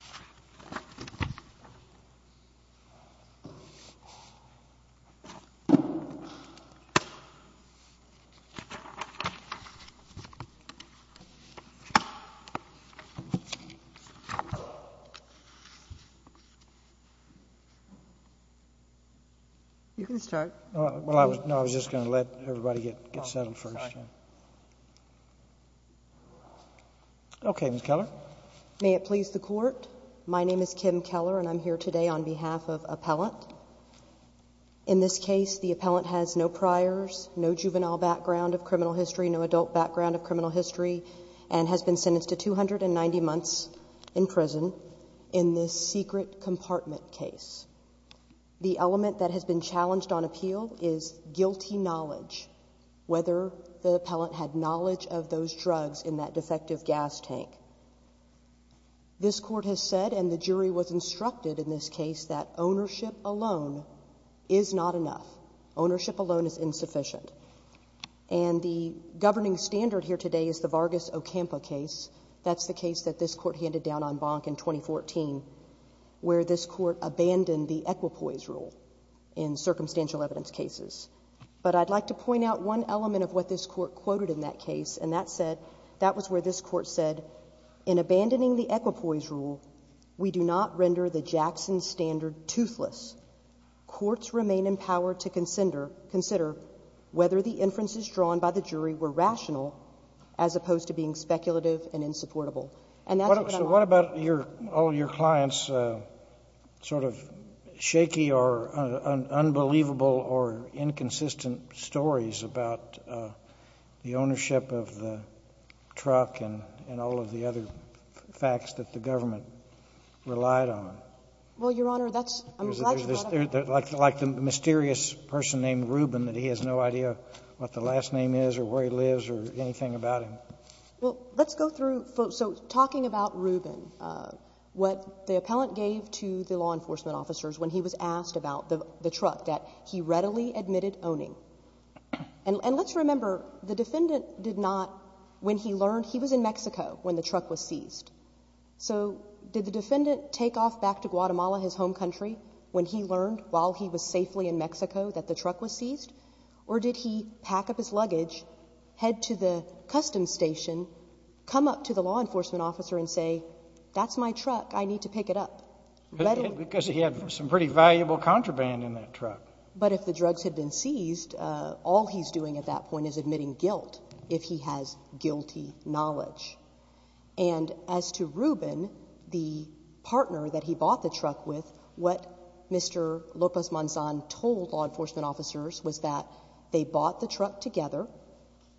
v. Hector Lopez-Monzon Okay, Ms. Keller. May it please the Court, my name is Kim Keller and I'm here today on behalf of Appellant. In this case, the Appellant has no priors, no juvenile background of criminal history, no adult background of criminal history, and has been sentenced to 290 months in prison in this secret compartment case. The element that has been challenged on appeal is guilty knowledge, whether the Appellant had knowledge of those drugs in that defective gas tank. This Court has said, and the jury was instructed in this case, that ownership alone is not enough. Ownership alone is insufficient. And the governing standard here today is the Vargas-Ocampa case. That's the case that this Court handed down en banc in 2014, where this Court abandoned the equipoise rule in circumstantial evidence cases. But I'd like to point out one element of what this Court quoted in that case. And that said, that was where this Court said, in abandoning the equipoise rule, we do not render the Jackson standard toothless. Courts remain in power to consider whether the inferences drawn by the jury were rational as opposed to being speculative and insupportable. And that's what I'm arguing. All your clients' sort of shaky or unbelievable or inconsistent stories about the ownership of the truck and all of the other facts that the government relied on. Well, Your Honor, that's the question. Like the mysterious person named Rubin, that he has no idea what the last name is or where he lives or anything about him. Well, let's go through. So talking about Rubin, what the appellant gave to the law enforcement officers when he was asked about the truck, that he readily admitted owning. And let's remember, the defendant did not, when he learned, he was in Mexico when the truck was seized. So did the defendant take off back to Guatemala, his home country, when he learned, while he was safely in Mexico, that the truck was seized? Or did he pack up his luggage, head to the customs station, come up to the law enforcement officer and say, that's my truck, I need to pick it up? Because he had some pretty valuable contraband in that truck. But if the drugs had been seized, all he's doing at that point is admitting guilt, if he has guilty knowledge. And as to Rubin, the partner that he bought the truck with, what Mr. Lopez-Manzan told law enforcement officers was that they bought the truck together,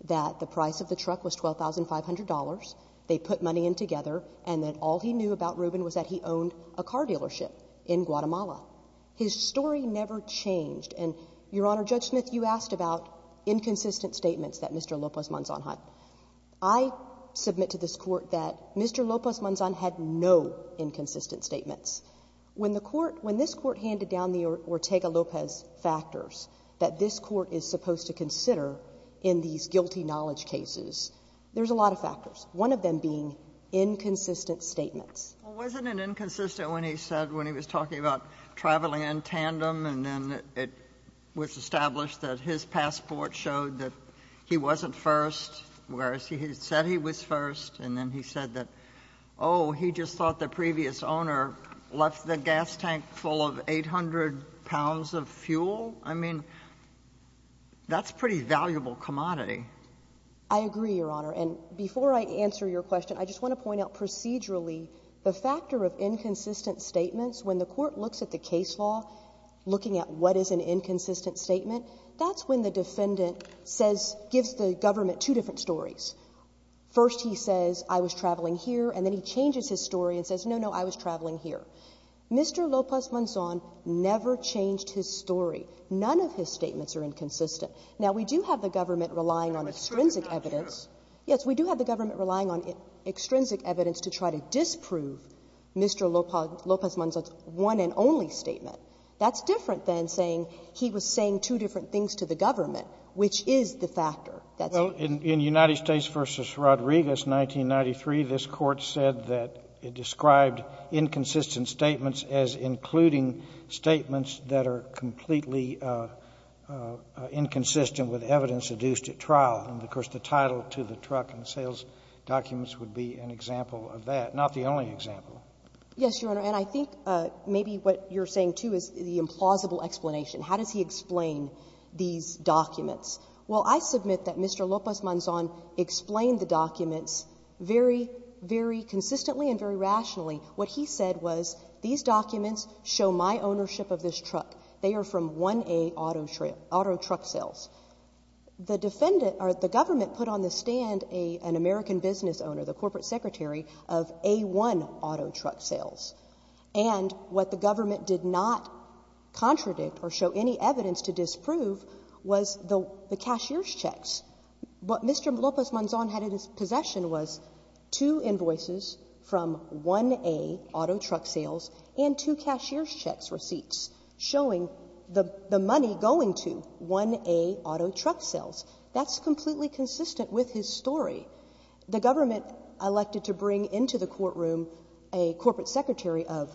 that the price of the truck was $12,500, they put money in together, and that all he knew about Rubin was that he owned a car dealership in Guatemala. His story never changed. And, Your Honor, Judge Smith, you asked about inconsistent statements that Mr. Lopez-Manzan had. I submit to this Court that Mr. Lopez-Manzan had no inconsistent statements. When the Court, when this Court handed down the Ortega-Lopez factors that this Court is supposed to consider in these guilty knowledge cases, there's a lot of factors, one of them being inconsistent statements. Well, wasn't it inconsistent when he said, when he was talking about traveling in tandem and then it was established that his passport showed that he wasn't first, whereas he had said he was first, and then he said that, oh, he just thought the previous owner left the gas tank full of 800 pounds of fuel? I mean, that's a pretty valuable commodity. I agree, Your Honor. And before I answer your question, I just want to point out procedurally the factor of inconsistent statements. When the Court looks at the case law, looking at what is an inconsistent statement, that's when the defendant says, gives the government two different stories. First he says, I was traveling here, and then he changes his story and says, no, no, I was traveling here. Mr. Lopez-Manzan never changed his story. None of his statements are inconsistent. Now, we do have the government relying on extrinsic evidence. Yes, we do have the government relying on extrinsic evidence to try to disprove Mr. Lopez-Manzan's one and only statement. That's different than saying he was saying two different things to the government, which is the factor. That's different. In United States v. Rodriguez, 1993, this Court said that it described inconsistent statements as including statements that are completely inconsistent with evidence adduced at trial. And, of course, the title to the truck and sales documents would be an example of that, not the only example. Yes, Your Honor. And I think maybe what you're saying, too, is the implausible explanation. How does he explain these documents? Well, I submit that Mr. Lopez-Manzan explained the documents very, very consistently and very rationally. What he said was, these documents show my ownership of this truck. They are from 1A Auto Truck Sales. The defendant or the government put on the stand an American business owner, the corporate secretary of A1 Auto Truck Sales. And what the government did not contradict or show any evidence to disprove was the cashier's checks. What Mr. Lopez-Manzan had in his possession was two invoices from 1A Auto Truck Sales and two cashier's checks receipts showing the money going to 1A Auto Truck Sales. That's completely consistent with his story. The government elected to bring into the courtroom a corporate secretary of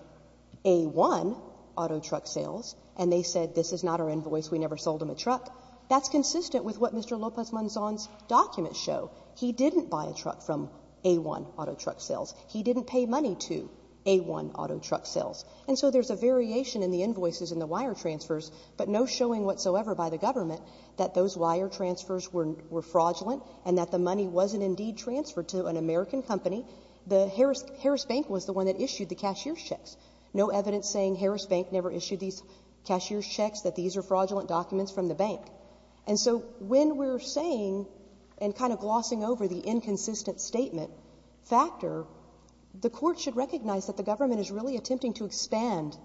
A1 Auto Truck Sales, and they said, this is not our invoice. We never sold him a truck. That's consistent with what Mr. Lopez-Manzan's documents show. He didn't buy a truck from A1 Auto Truck Sales. He didn't pay money to A1 Auto Truck Sales. And so there's a variation in the invoices and the wire transfers, but no showing whatsoever by the government that those wire transfers were fraudulent and that the money wasn't indeed transferred to an American company. The Harris Bank was the one that issued the cashier's checks. No evidence saying Harris Bank never issued these cashier's checks, that these are And so when we're saying and kind of glossing over the inconsistent statement factor, the court should recognize that the government is really attempting to expand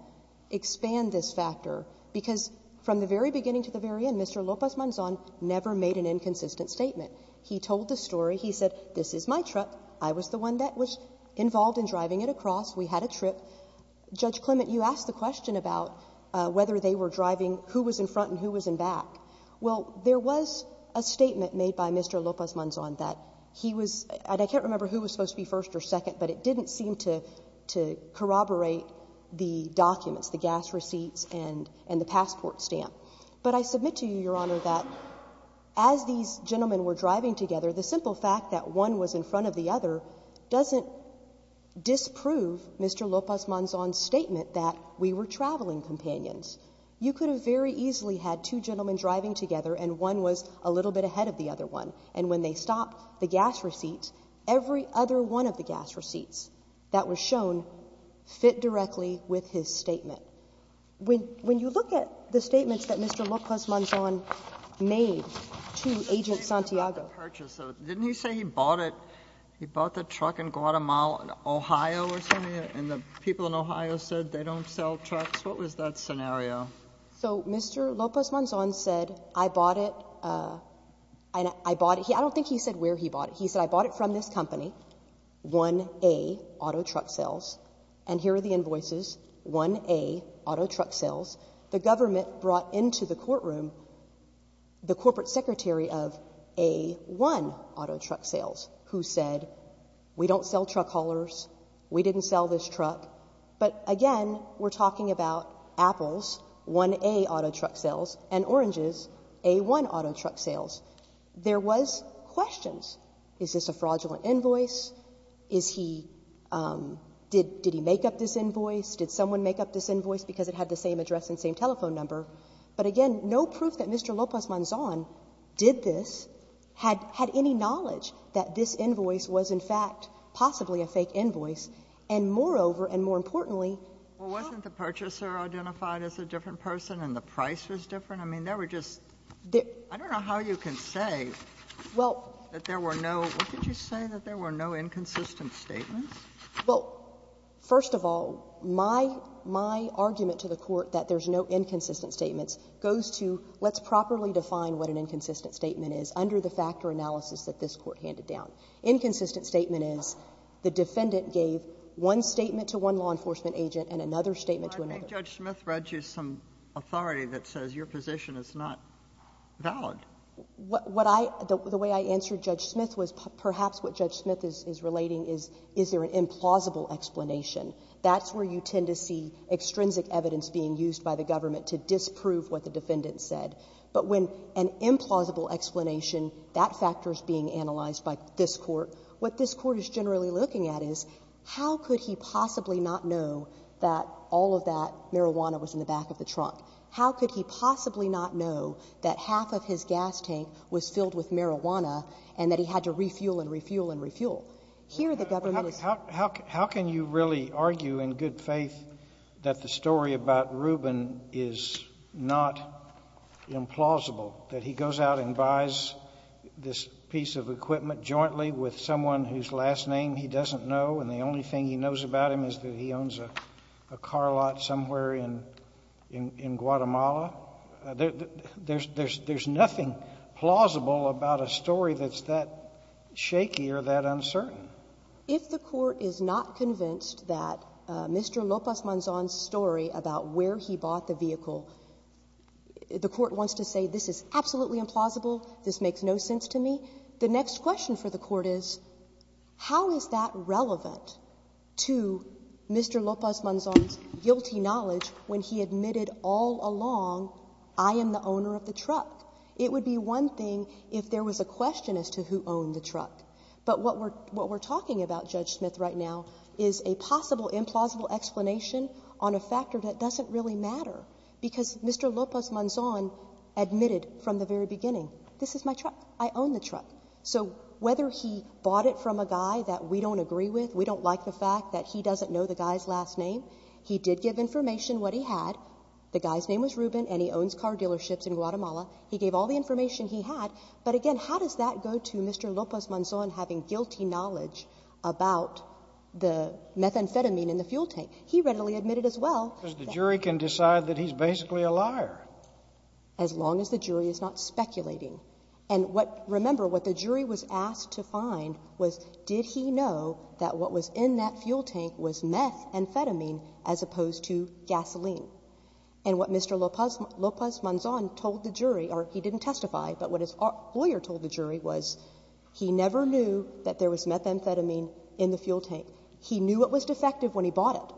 this factor, because from the very beginning to the very end, Mr. Lopez-Manzan never made an inconsistent statement. He told the story. He said, this is my truck. I was the one that was involved in driving it across. We had a trip. Judge Clement, you asked the question about whether they were driving who was in front and who was in back. Well, there was a statement made by Mr. Lopez-Manzan that he was, and I can't remember who was supposed to be first or second, but it didn't seem to corroborate the documents, the gas receipts and the passport stamp. But I submit to you, Your Honor, that as these gentlemen were driving together, the simple fact that one was in front of the other doesn't disprove Mr. Lopez-Manzan's statement that we were traveling companions. You could have very easily had two gentlemen driving together and one was a little bit ahead of the other one. And when they stopped the gas receipts, every other one of the gas receipts that were shown fit directly with his statement. When you look at the statements that Mr. Lopez-Manzan made to Agent Santiago. The purchase. Didn't he say he bought it, he bought the truck in Guatemala, Ohio or something, and the people in Ohio said they don't sell trucks? What was that scenario? So Mr. Lopez-Manzan said, I bought it. I bought it. I don't think he said where he bought it. He said, I bought it from this company, 1A Auto Truck Sales. And here are the invoices, 1A Auto Truck Sales. The government brought into the courtroom the corporate secretary of A1 Auto Truck Sales who said, we don't sell truck haulers. We didn't sell this truck. But, again, we're talking about Apple's 1A Auto Truck Sales and Orange's A1 Auto Truck Sales. There was questions. Is this a fraudulent invoice? Is he – did he make up this invoice? Did someone make up this invoice because it had the same address and same telephone number? But, again, no proof that Mr. Lopez-Manzan did this had any knowledge that this invoice was, in fact, possibly a fake invoice. And, moreover, and more importantly, how – Well, wasn't the purchaser identified as a different person and the price was different? I mean, there were just – I don't know how you can say that there were no – what did you say, that there were no inconsistent statements? Well, first of all, my argument to the Court that there's no inconsistent statements goes to let's properly define what an inconsistent statement is under the factor analysis that this Court handed down. Inconsistent statement is the defendant gave one statement to one law enforcement agent and another statement to another. But I think Judge Smith read you some authority that says your position is not valid. What I – the way I answered Judge Smith was perhaps what Judge Smith is relating is, is there an implausible explanation. That's where you tend to see extrinsic evidence being used by the government to disprove what the defendant said. But when an implausible explanation, that factor is being analyzed by this Court. What this Court is generally looking at is, how could he possibly not know that all of that marijuana was in the back of the trunk? How could he possibly not know that half of his gas tank was filled with marijuana and that he had to refuel and refuel and refuel? Here, the government is – in good faith that the story about Rubin is not implausible, that he goes out and buys this piece of equipment jointly with someone whose last name he doesn't know, and the only thing he knows about him is that he owns a car lot somewhere in Guatemala. There's nothing plausible about a story that's that shaky or that uncertain. If the Court is not convinced that Mr. López-Manzón's story about where he bought the vehicle, the Court wants to say this is absolutely implausible, this makes no sense to me, the next question for the Court is, how is that relevant to Mr. López-Manzón's guilty knowledge when he admitted all along, I am the owner of the truck? It would be one thing if there was a question as to who owned the truck. But what we're talking about, Judge Smith, right now is a possible implausible explanation on a factor that doesn't really matter, because Mr. López-Manzón admitted from the very beginning, this is my truck, I own the truck. So whether he bought it from a guy that we don't agree with, we don't like the fact that he doesn't know the guy's last name, he did give information what he had. The guy's name was Rubin and he owns car dealerships in Guatemala. He gave all the information he had. But again, how does that go to Mr. López-Manzón having guilty knowledge about the methamphetamine in the fuel tank? He readily admitted as well. The jury can decide that he's basically a liar. As long as the jury is not speculating. And what, remember, what the jury was asked to find was, did he know that what was in that fuel tank was methamphetamine as opposed to gasoline? And what Mr. López-Manzón told the jury, or he didn't testify, but what his lawyer told the jury was, he never knew that there was methamphetamine in the fuel tank. He knew it was defective when he bought it.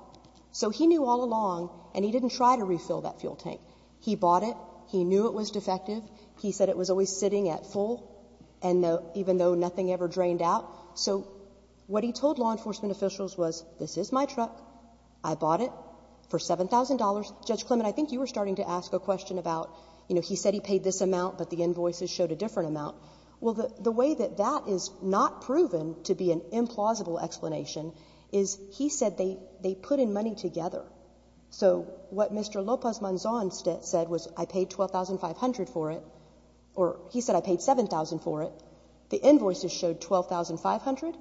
So he knew all along and he didn't try to refill that fuel tank. He bought it. He knew it was defective. He said it was always sitting at full and even though nothing ever drained out. So what he told law enforcement officials was, this is my truck, I bought it for $7,000 and I paid $12,500 for it. Now, Judge Clement, I think you were starting to ask a question about, you know, he said he paid this amount, but the invoices showed a different amount. Well, the way that that is not proven to be an implausible explanation is he said they put in money together. So what Mr. López-Manzón said was, I paid $12,500 for it, or he said I paid $7,000 for it. The invoices showed $12,500.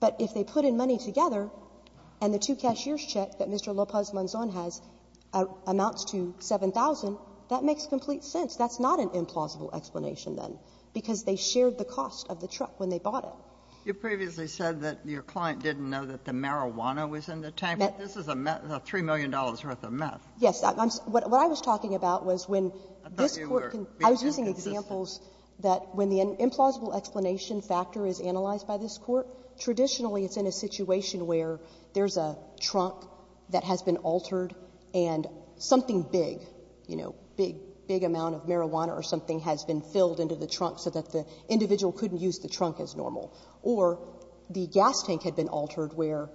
But if they put in money together and the two cashier's check that Mr. López-Manzón has amounts to $7,000, that makes complete sense. That's not an implausible explanation, then, because they shared the cost of the truck when they bought it. You previously said that your client didn't know that the marijuana was in the tank. This is a $3 million worth of meth. Yes. What I was talking about was when this Court can be inconsistent. It's one of the examples that when the implausible explanation factor is analyzed by this Court, traditionally it's in a situation where there's a trunk that has been altered and something big, you know, big, big amount of marijuana or something has been filled into the trunk so that the individual couldn't use the trunk as normal. Or the gas tank had been altered where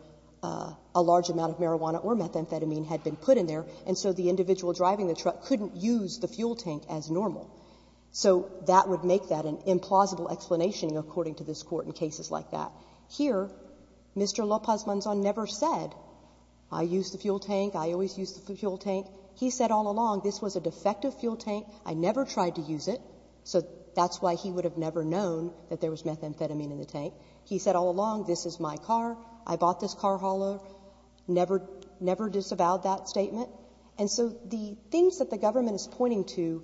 a large amount of marijuana or methamphetamine had been put in there, and so the individual driving the truck couldn't use the fuel tank as normal. So that would make that an implausible explanation according to this Court in cases like that. Here, Mr. Lopez-Manzón never said, I use the fuel tank, I always use the fuel tank. He said all along, this was a defective fuel tank, I never tried to use it, so that's why he would have never known that there was methamphetamine in the tank. He said all along, this is my car, I bought this car hauler, never disavowed that statement. And so the things that the government is pointing to,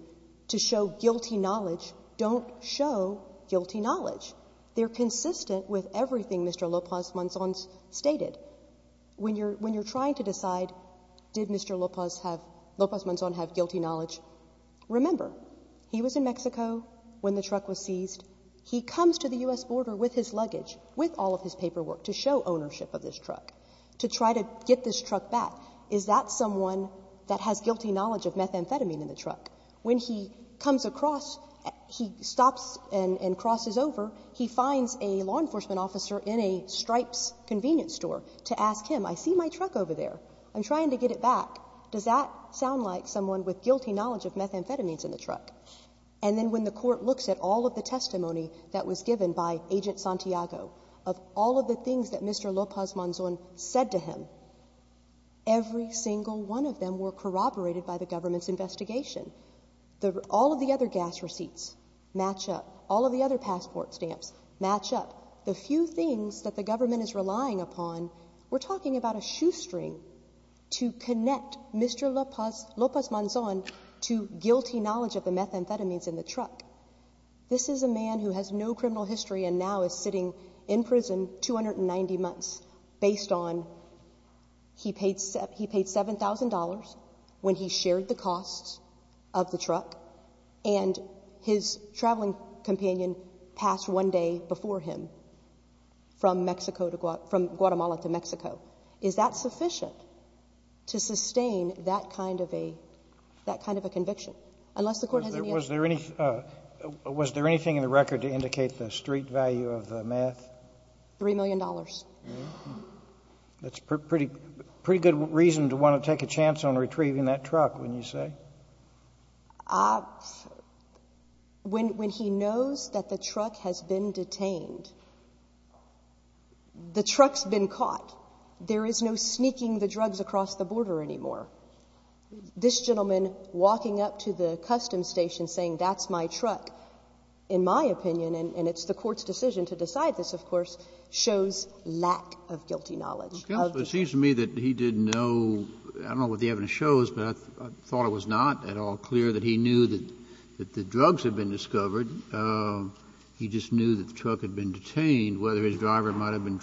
to show guilty knowledge, don't show guilty knowledge. They're consistent with everything Mr. Lopez-Manzón stated. When you're trying to decide, did Mr. Lopez-Manzón have guilty knowledge, remember, he was in Mexico when the truck was seized. He comes to the U.S. border with his luggage, with all of his paperwork, to show ownership of this truck, to try to get this truck back. Is that someone that has guilty knowledge of methamphetamine in the truck? When he comes across, he stops and crosses over, he finds a law enforcement officer in a Stripes convenience store to ask him, I see my truck over there, I'm trying to get it back. Does that sound like someone with guilty knowledge of methamphetamines in the truck? And then when the Court looks at all of the testimony that was given by Agent Santiago, of all of the things that Mr. Lopez-Manzón said to him, every single one of them were corroborated by the government's investigation. All of the other gas receipts match up. All of the other passport stamps match up. The few things that the government is relying upon, we're talking about a shoestring to connect Mr. Lopez-Manzón to guilty knowledge of the methamphetamines in the truck. This is a man who has no criminal history and now is sitting in prison, 290 months, based on he paid $7,000 when he shared the costs of the truck, and his traveling companion passed one day before him from Guatemala to Mexico. Is that sufficient to sustain that kind of a conviction? Unless the Court has any other questions. Was there anything in the record to indicate the street value of the meth? $3 million. That's a pretty good reason to want to take a chance on retrieving that truck, wouldn't you say? When he knows that the truck has been detained, the truck's been caught. There is no sneaking the drugs across the border anymore. This gentleman walking up to the customs station saying, that's my truck, in my opinion, and it's the Court's decision to decide this, of course, shows lack of guilty knowledge of the truck. It seems to me that he didn't know, I don't know what the evidence shows, but I thought it was not at all clear that he knew that the drugs had been discovered. He just knew that the truck had been detained, whether his driver might have been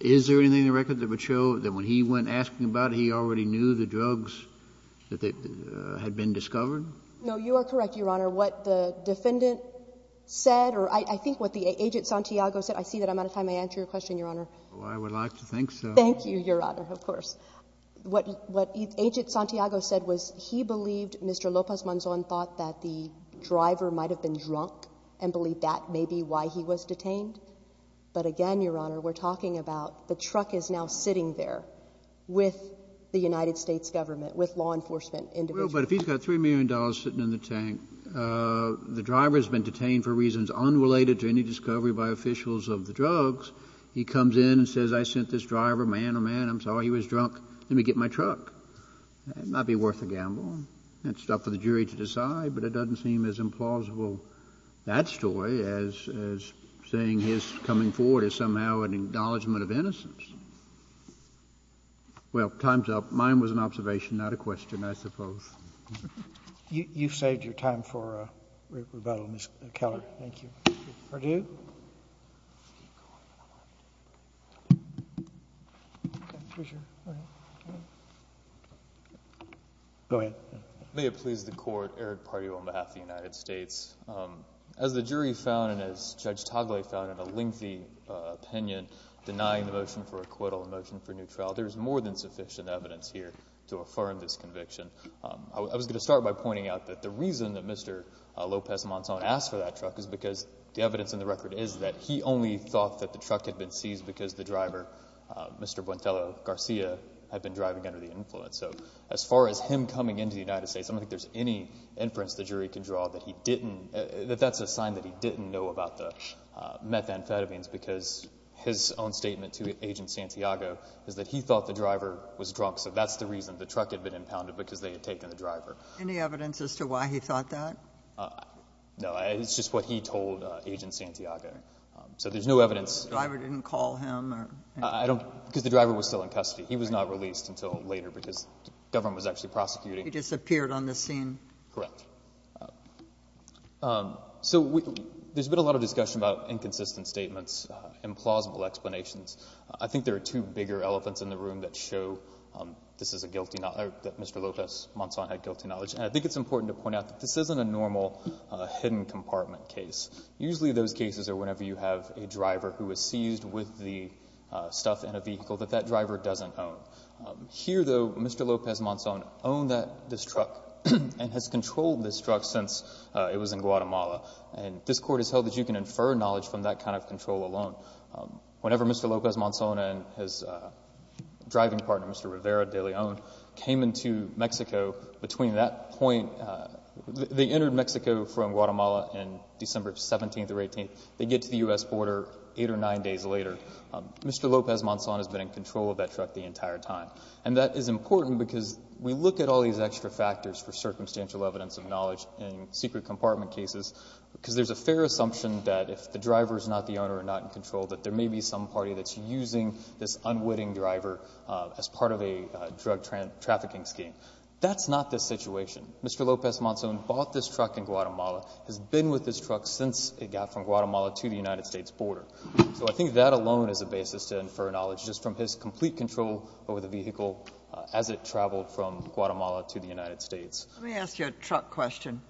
Is there anything in the record that would show that when he went asking about it, he already knew the drugs had been discovered? No, you are correct, Your Honor. What the defendant said, or I think what the agent Santiago said, I see that I'm out of time to answer your question, Your Honor. Oh, I would like to think so. Thank you, Your Honor, of course. What agent Santiago said was he believed Mr. Lopez Manzon thought that the driver might have been drunk and believed that may be why he was detained. But again, Your Honor, we're talking about the truck is now sitting there with the United States government, with law enforcement individuals. Well, but if he's got $3 million sitting in the tank, the driver has been detained for reasons unrelated to any discovery by officials of the drugs. He comes in and says, I sent this driver, man, oh, man, I'm sorry, he was drunk, let me get my truck. It might be worth a gamble, and it's up for the jury to decide, but it doesn't seem as implausible, that story, as saying his coming forward is somehow an acknowledgment of innocence. Well, time's up. Mine was an observation, not a question, I suppose. You've saved your time for rebuttal, Ms. Keller. Thank you. Pardue. Go ahead. May it please the Court, Eric Pardue on behalf of the United States. As the jury found and as Judge Togliatti found in a lengthy opinion, denying the motion for acquittal, the motion for new trial, there is more than sufficient evidence here to affirm this conviction. I was going to start by pointing out that the reason that Mr. Lopez-Monson asked for that truck is because the evidence in the record is that he only thought that the truck had been seized because the driver, Mr. Buentelo Garcia, had been driving under the influence. So as far as him coming into the United States, I don't think there's any inference the jury can draw that he didn't, that that's a sign that he didn't know about the methamphetamines because his own statement to Agent Santiago is that he thought the driver was drunk, so that's the reason the truck had been impounded, because they had taken the driver. Any evidence as to why he thought that? No. It's just what he told Agent Santiago. So there's no evidence. The driver didn't call him? I don't, because the driver was still in custody. He was not released until later because the government was actually prosecuting. He disappeared on the scene? Correct. So there's been a lot of discussion about inconsistent statements, implausible explanations. I think there are two bigger elephants in the room that show this is a guilty knowledge, that Mr. Lopez-Monson had guilty knowledge, and I think it's important to point out that this isn't a normal hidden compartment case. Usually those cases are whenever you have a driver who is seized with the stuff and a vehicle that that driver doesn't own. Here, though, Mr. Lopez-Monson owned this truck and has controlled this truck since it was in Guatemala, and this Court has held that you can infer knowledge from that kind of control alone. Whenever Mr. Lopez-Monson and his driving partner, Mr. Rivera de Leon, came into Mexico, between that point they entered Mexico from Guatemala on December 17th or 18th. They get to the U.S. border eight or nine days later. Mr. Lopez-Monson has been in control of that truck the entire time, and that is important because we look at all these extra factors for circumstantial evidence of knowledge in secret compartment cases because there's a fair assumption that if the driver is not the owner and not in control, that there may be some party that's using this unwitting driver as part of a drug trafficking scheme. That's not the situation. Mr. Lopez-Monson bought this truck in Guatemala, has been with this truck since it got from Guatemala to the United States border. So I think that alone is a basis to infer knowledge just from his complete control over the vehicle as it traveled from Guatemala to the United States. Let me ask you a truck question.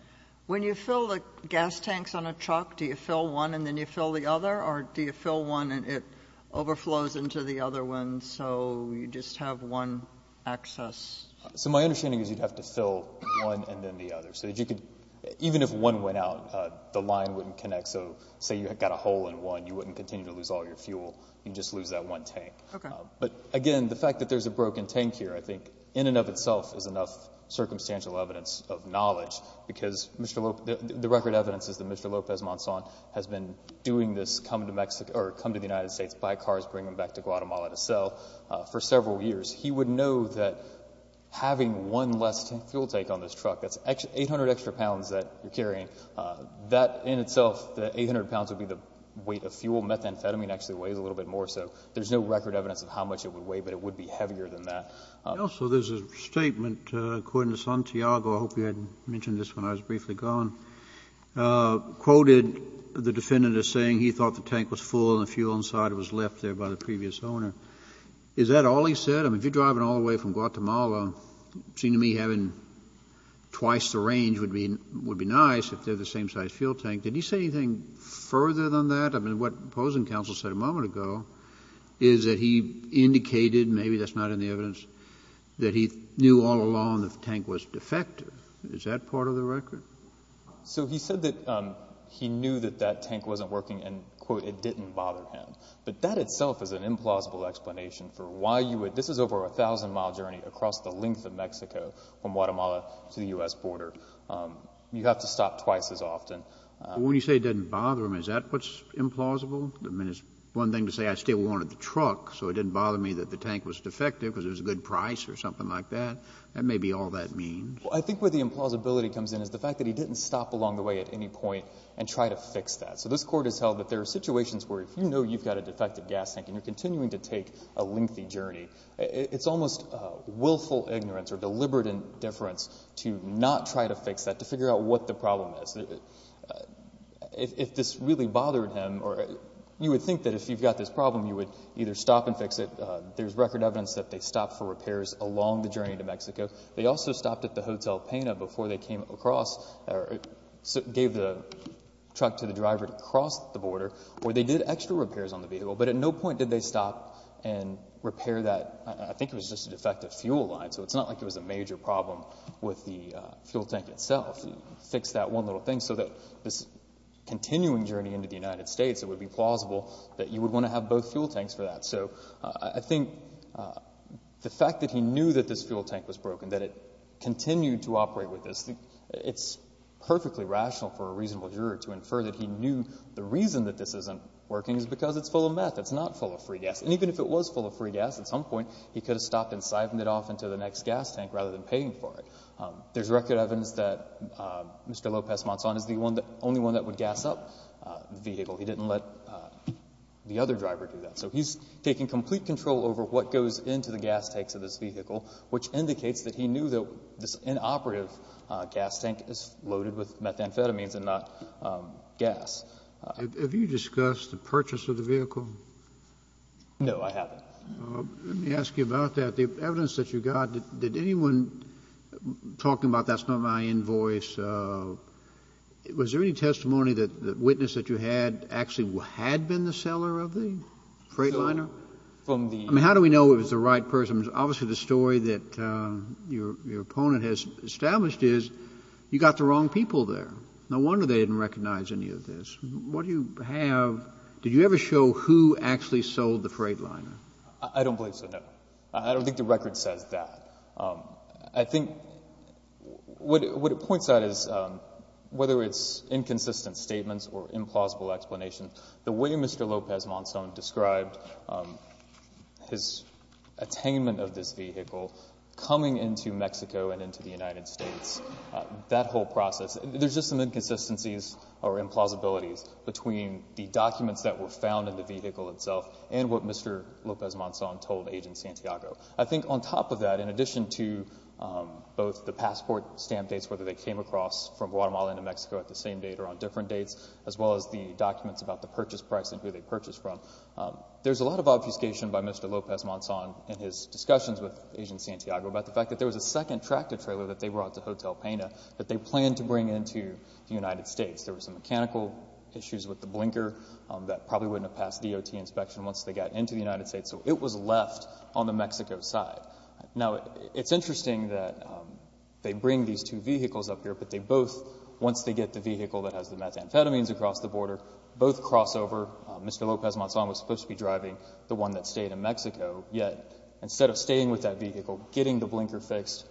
When you fill the gas tanks on a truck, do you fill one and then you fill the other, or do you fill one and it overflows into the other one so you just have one access? So my understanding is you'd have to fill one and then the other. Even if one went out, the line wouldn't connect. So say you got a hole in one, you wouldn't continue to lose all your fuel. You'd just lose that one tank. But, again, the fact that there's a broken tank here, I think, in and of itself, is enough circumstantial evidence of knowledge because the record evidence is that Mr. Lopez-Monson has been doing this come to the United States, buy cars, bring them back to Guatemala to sell for several years. He would know that having one less fuel tank on this truck, that's 800 extra pounds that you're carrying, that in itself, the 800 pounds would be the weight of fuel. Methamphetamine actually weighs a little bit more, so there's no record evidence of how much it would weigh, but it would be heavier than that. Also, there's a statement, according to Santiago, I hope you had mentioned this when I was briefly gone, quoted the defendant as saying he thought the tank was full and the fuel inside was left there by the previous owner. Is that all he said? I mean, if you're driving all the way from Guatemala, it would seem to me having twice the range would be nice if they're the same size fuel tank. Did he say anything further than that? I mean, what opposing counsel said a moment ago is that he indicated, maybe that's not in the evidence, that he knew all along that the tank was defective. Is that part of the record? So he said that he knew that that tank wasn't working and, quote, it didn't bother him. But that itself is an implausible explanation for why you would – this is over a 1,000-mile journey across the length of Mexico from Guatemala to the U.S. border. You have to stop twice as often. When you say it didn't bother him, is that what's implausible? I mean, it's one thing to say I still wanted the truck, so it didn't bother me that the tank was defective because it was a good price or something like that. That may be all that means. Well, I think where the implausibility comes in is the fact that he didn't stop along the way at any point and try to fix that. So this Court has held that there are situations where if you know you've got a defective gas tank and you're continuing to take a lengthy journey, it's almost willful ignorance or deliberate indifference to not try to fix that, to figure out what the problem is. If this really bothered him, you would think that if you've got this problem, you would either stop and fix it. There's record evidence that they stopped for repairs along the journey to Mexico. They also stopped at the Hotel Pena before they came across or gave the truck to the driver to cross the border, or they did extra repairs on the vehicle, but at no point did they stop and repair that. I think it was just a defective fuel line, so it's not like it was a major problem with the fuel tank itself. Fix that one little thing so that this continuing journey into the United States, it would be plausible that you would want to have both fuel tanks for that. So I think the fact that he knew that this fuel tank was broken, that it continued to operate with this, it's perfectly rational for a reasonable juror to infer that he knew the reason that this isn't working is because it's full of meth. It's not full of free gas. And even if it was full of free gas at some point, he could have stopped and siphoned it off into the next gas tank rather than paying for it. There's record evidence that Mr. Lopez-Montzon is the only one that would gas up the vehicle. He didn't let the other driver do that. So he's taking complete control over what goes into the gas tanks of this vehicle, which indicates that he knew that this inoperative gas tank is loaded with methamphetamines and not gas. Have you discussed the purchase of the vehicle? No, I haven't. Let me ask you about that. The evidence that you got, did anyone talking about that's not my invoice, was there any testimony that the witness that you had actually had been the seller of the Freightliner? I mean, how do we know it was the right person? Obviously, the story that your opponent has established is you got the wrong people there. No wonder they didn't recognize any of this. What do you have? Did you ever show who actually sold the Freightliner? I don't believe so, no. I don't think the record says that. I think what it points out is whether it's inconsistent statements or implausible explanation, the way Mr. Lopez-Montzon described his attainment of this vehicle coming into Mexico and into the United States, that whole process, there's just some inconsistencies or implausibilities between the documents that were found in the vehicle itself and what Mr. Lopez-Montzon told Agent Santiago. I think on top of that, in addition to both the passport stamp dates, whether they came across from Guatemala and New Mexico at the same date or on different dates, as well as the documents about the purchase price and who they purchased from, there's a lot of obfuscation by Mr. Lopez-Montzon in his discussions with Agent Santiago about the fact that there was a second tractor trailer that they brought to Hotel Pena that they planned to bring into the United States. There were some mechanical issues with the blinker that probably wouldn't have passed DOT inspection once they got into the United States, so it was left on the Mexico side. Now, it's interesting that they bring these two vehicles up here, but they both, once they get the vehicle that has the methamphetamines across the border, both cross over. Mr. Lopez-Montzon was supposed to be driving the one that stayed in Mexico, yet instead of staying with that vehicle, getting the blinker fixed,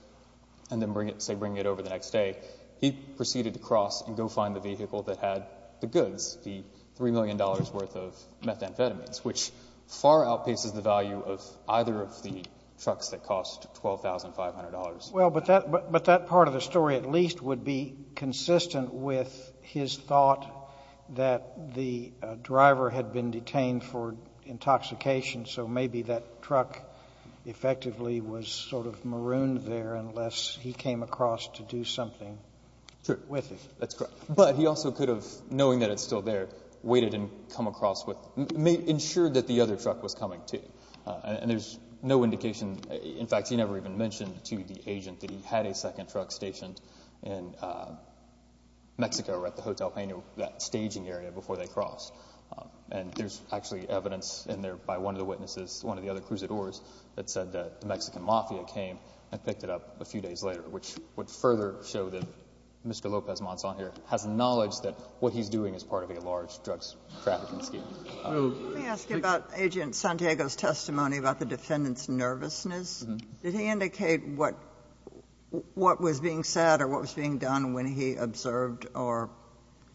and then, say, bringing it over the next day, he proceeded to cross and go find the vehicle that had the goods, the $3 million worth of methamphetamines, which far outpaces the value of either of the trucks that cost $12,500. Well, but that part of the story at least would be consistent with his thought that the driver had been detained for intoxication, so maybe that truck effectively was sort of marooned there unless he came across to do something with it. Sure. That's correct. But he also could have, knowing that it's still there, waited and come across with it, ensured that the other truck was coming, too, and there's no indication. In fact, he never even mentioned to the agent that he had a second truck stationed in Mexico at the Hotel Peña, that staging area, before they crossed. And there's actually evidence in there by one of the witnesses, one of the other cruisadores, that said that the Mexican mafia came and picked it up a few days later, which would further show that Mr. Lopez-Montzon here has knowledge that what he's doing is part of a large drug trafficking scheme. Let me ask you about Agent Santiago's testimony about the defendant's nervousness. Did he indicate what was being said or what was being done when he observed or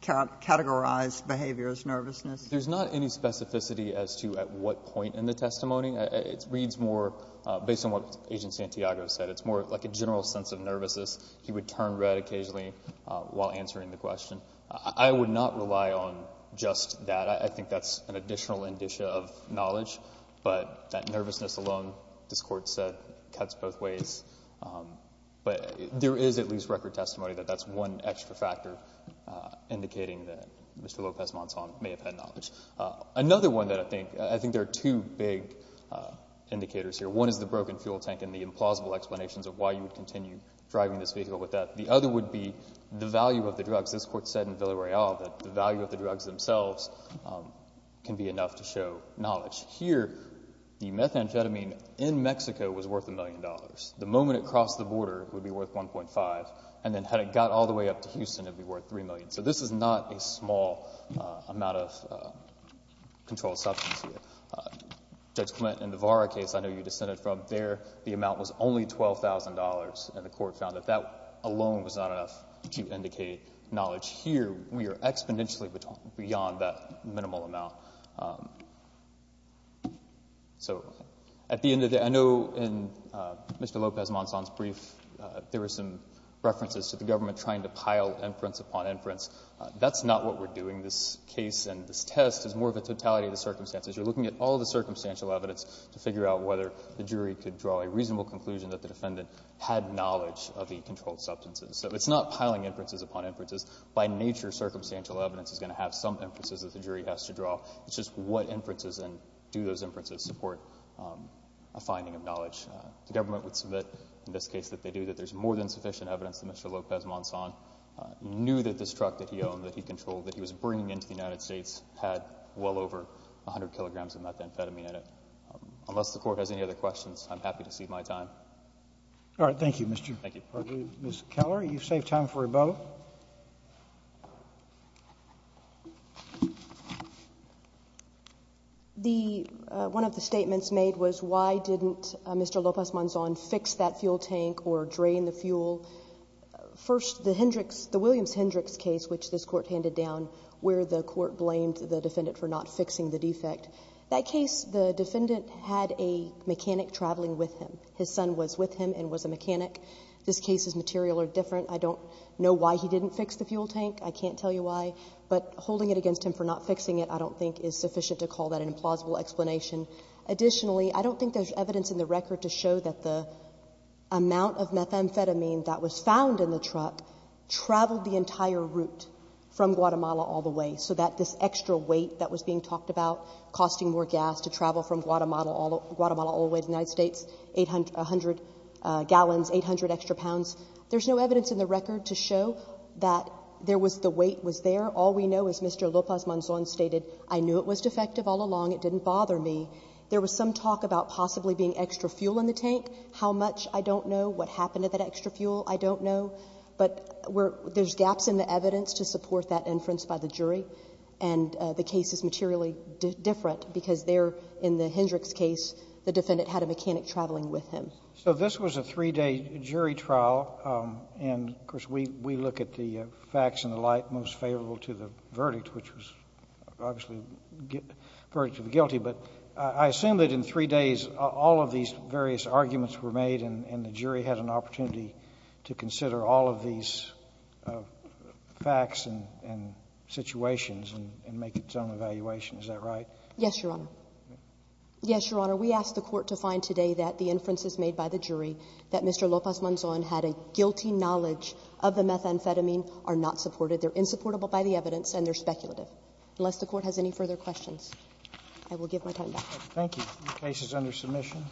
categorized behavior as nervousness? There's not any specificity as to at what point in the testimony. It reads more based on what Agent Santiago said. It's more like a general sense of nervousness. He would turn red occasionally while answering the question. I would not rely on just that. I think that's an additional indicia of knowledge. But that nervousness alone, this Court said, cuts both ways. But there is at least record testimony that that's one extra factor indicating that Mr. Lopez-Montzon may have had knowledge. Another one that I think there are two big indicators here. One is the broken fuel tank and the implausible explanations of why you would continue driving this vehicle with that. The other would be the value of the drugs. This Court said in Villareal that the value of the drugs themselves can be enough to show knowledge. Here, the methamphetamine in Mexico was worth $1 million. The moment it crossed the border, it would be worth $1.5 million. And then had it got all the way up to Houston, it would be worth $3 million. So this is not a small amount of controlled substance here. Judge Clement, in the Vara case I know you descended from, there the amount was only $12,000, and the Court found that that alone was not enough to indicate knowledge. Here, we are exponentially beyond that minimal amount. So at the end of the day, I know in Mr. Lopez-Montzon's brief, there were some references to the government trying to pile inference upon inference. That's not what we're doing. This case and this test is more of a totality of the circumstances. You're looking at all the circumstantial evidence to figure out whether the jury could draw a reasonable conclusion that the defendant had knowledge of the controlled substances. So it's not piling inferences upon inferences. By nature, circumstantial evidence is going to have some inferences that the jury has to draw. It's just what inferences and do those inferences support a finding of knowledge. The government would submit in this case that they do, that there's more than sufficient evidence that Mr. Lopez-Montzon knew that this truck that he owned, that he controlled, that he was bringing into the United States had well over 100 kilograms of methamphetamine in it. Unless the Court has any other questions, I'm happy to cede my time. All right. Thank you, Mr. Chief. Thank you. Mr. Keller, you've saved time for rebuttal. One of the statements made was why didn't Mr. Lopez-Montzon fix that fuel tank or drain the fuel. First, the Hendricks, the Williams-Hendricks case, which this Court handed down, where the Court blamed the defendant for not fixing the defect. That case, the defendant had a mechanic traveling with him. His son was with him and was a mechanic. This case's material are different. I don't know why he didn't fix the fuel tank. I can't tell you why. But holding it against him for not fixing it, I don't think, is sufficient to call that an implausible explanation. Additionally, I don't think there's evidence in the record to show that the amount of methamphetamine that was found in the truck traveled the entire route from Guatemala all the way, so that this extra weight that was being talked about, costing more gas to travel from Guatemala all the way to the United States, 800 gallons, 800 extra pounds. There's no evidence in the record to show that there was the weight was there. All we know is Mr. Lopez-Montzon stated, I knew it was defective all along. It didn't bother me. There was some talk about possibly being extra fuel in the tank. How much, I don't know. What happened to that extra fuel, I don't know. But there's gaps in the evidence to support that inference by the jury. And the case is materially different because there, in the Hendricks case, the defendant had a mechanic traveling with him. So this was a 3-day jury trial. And, of course, we look at the facts and the light most favorable to the verdict, which was obviously the verdict of the guilty. But I assume that in 3 days all of these various arguments were made and the jury had an opportunity to consider all of these facts and situations and make its own evaluation. Is that right? Yes, Your Honor. Yes, Your Honor. We asked the court to find today that the inferences made by the jury that Mr. Lopez-Montzon had a guilty knowledge of the methamphetamine are not supported. They're insupportable by the evidence and they're speculative. Unless the court has any further questions, I will give my time back. Thank you. The case is under submission.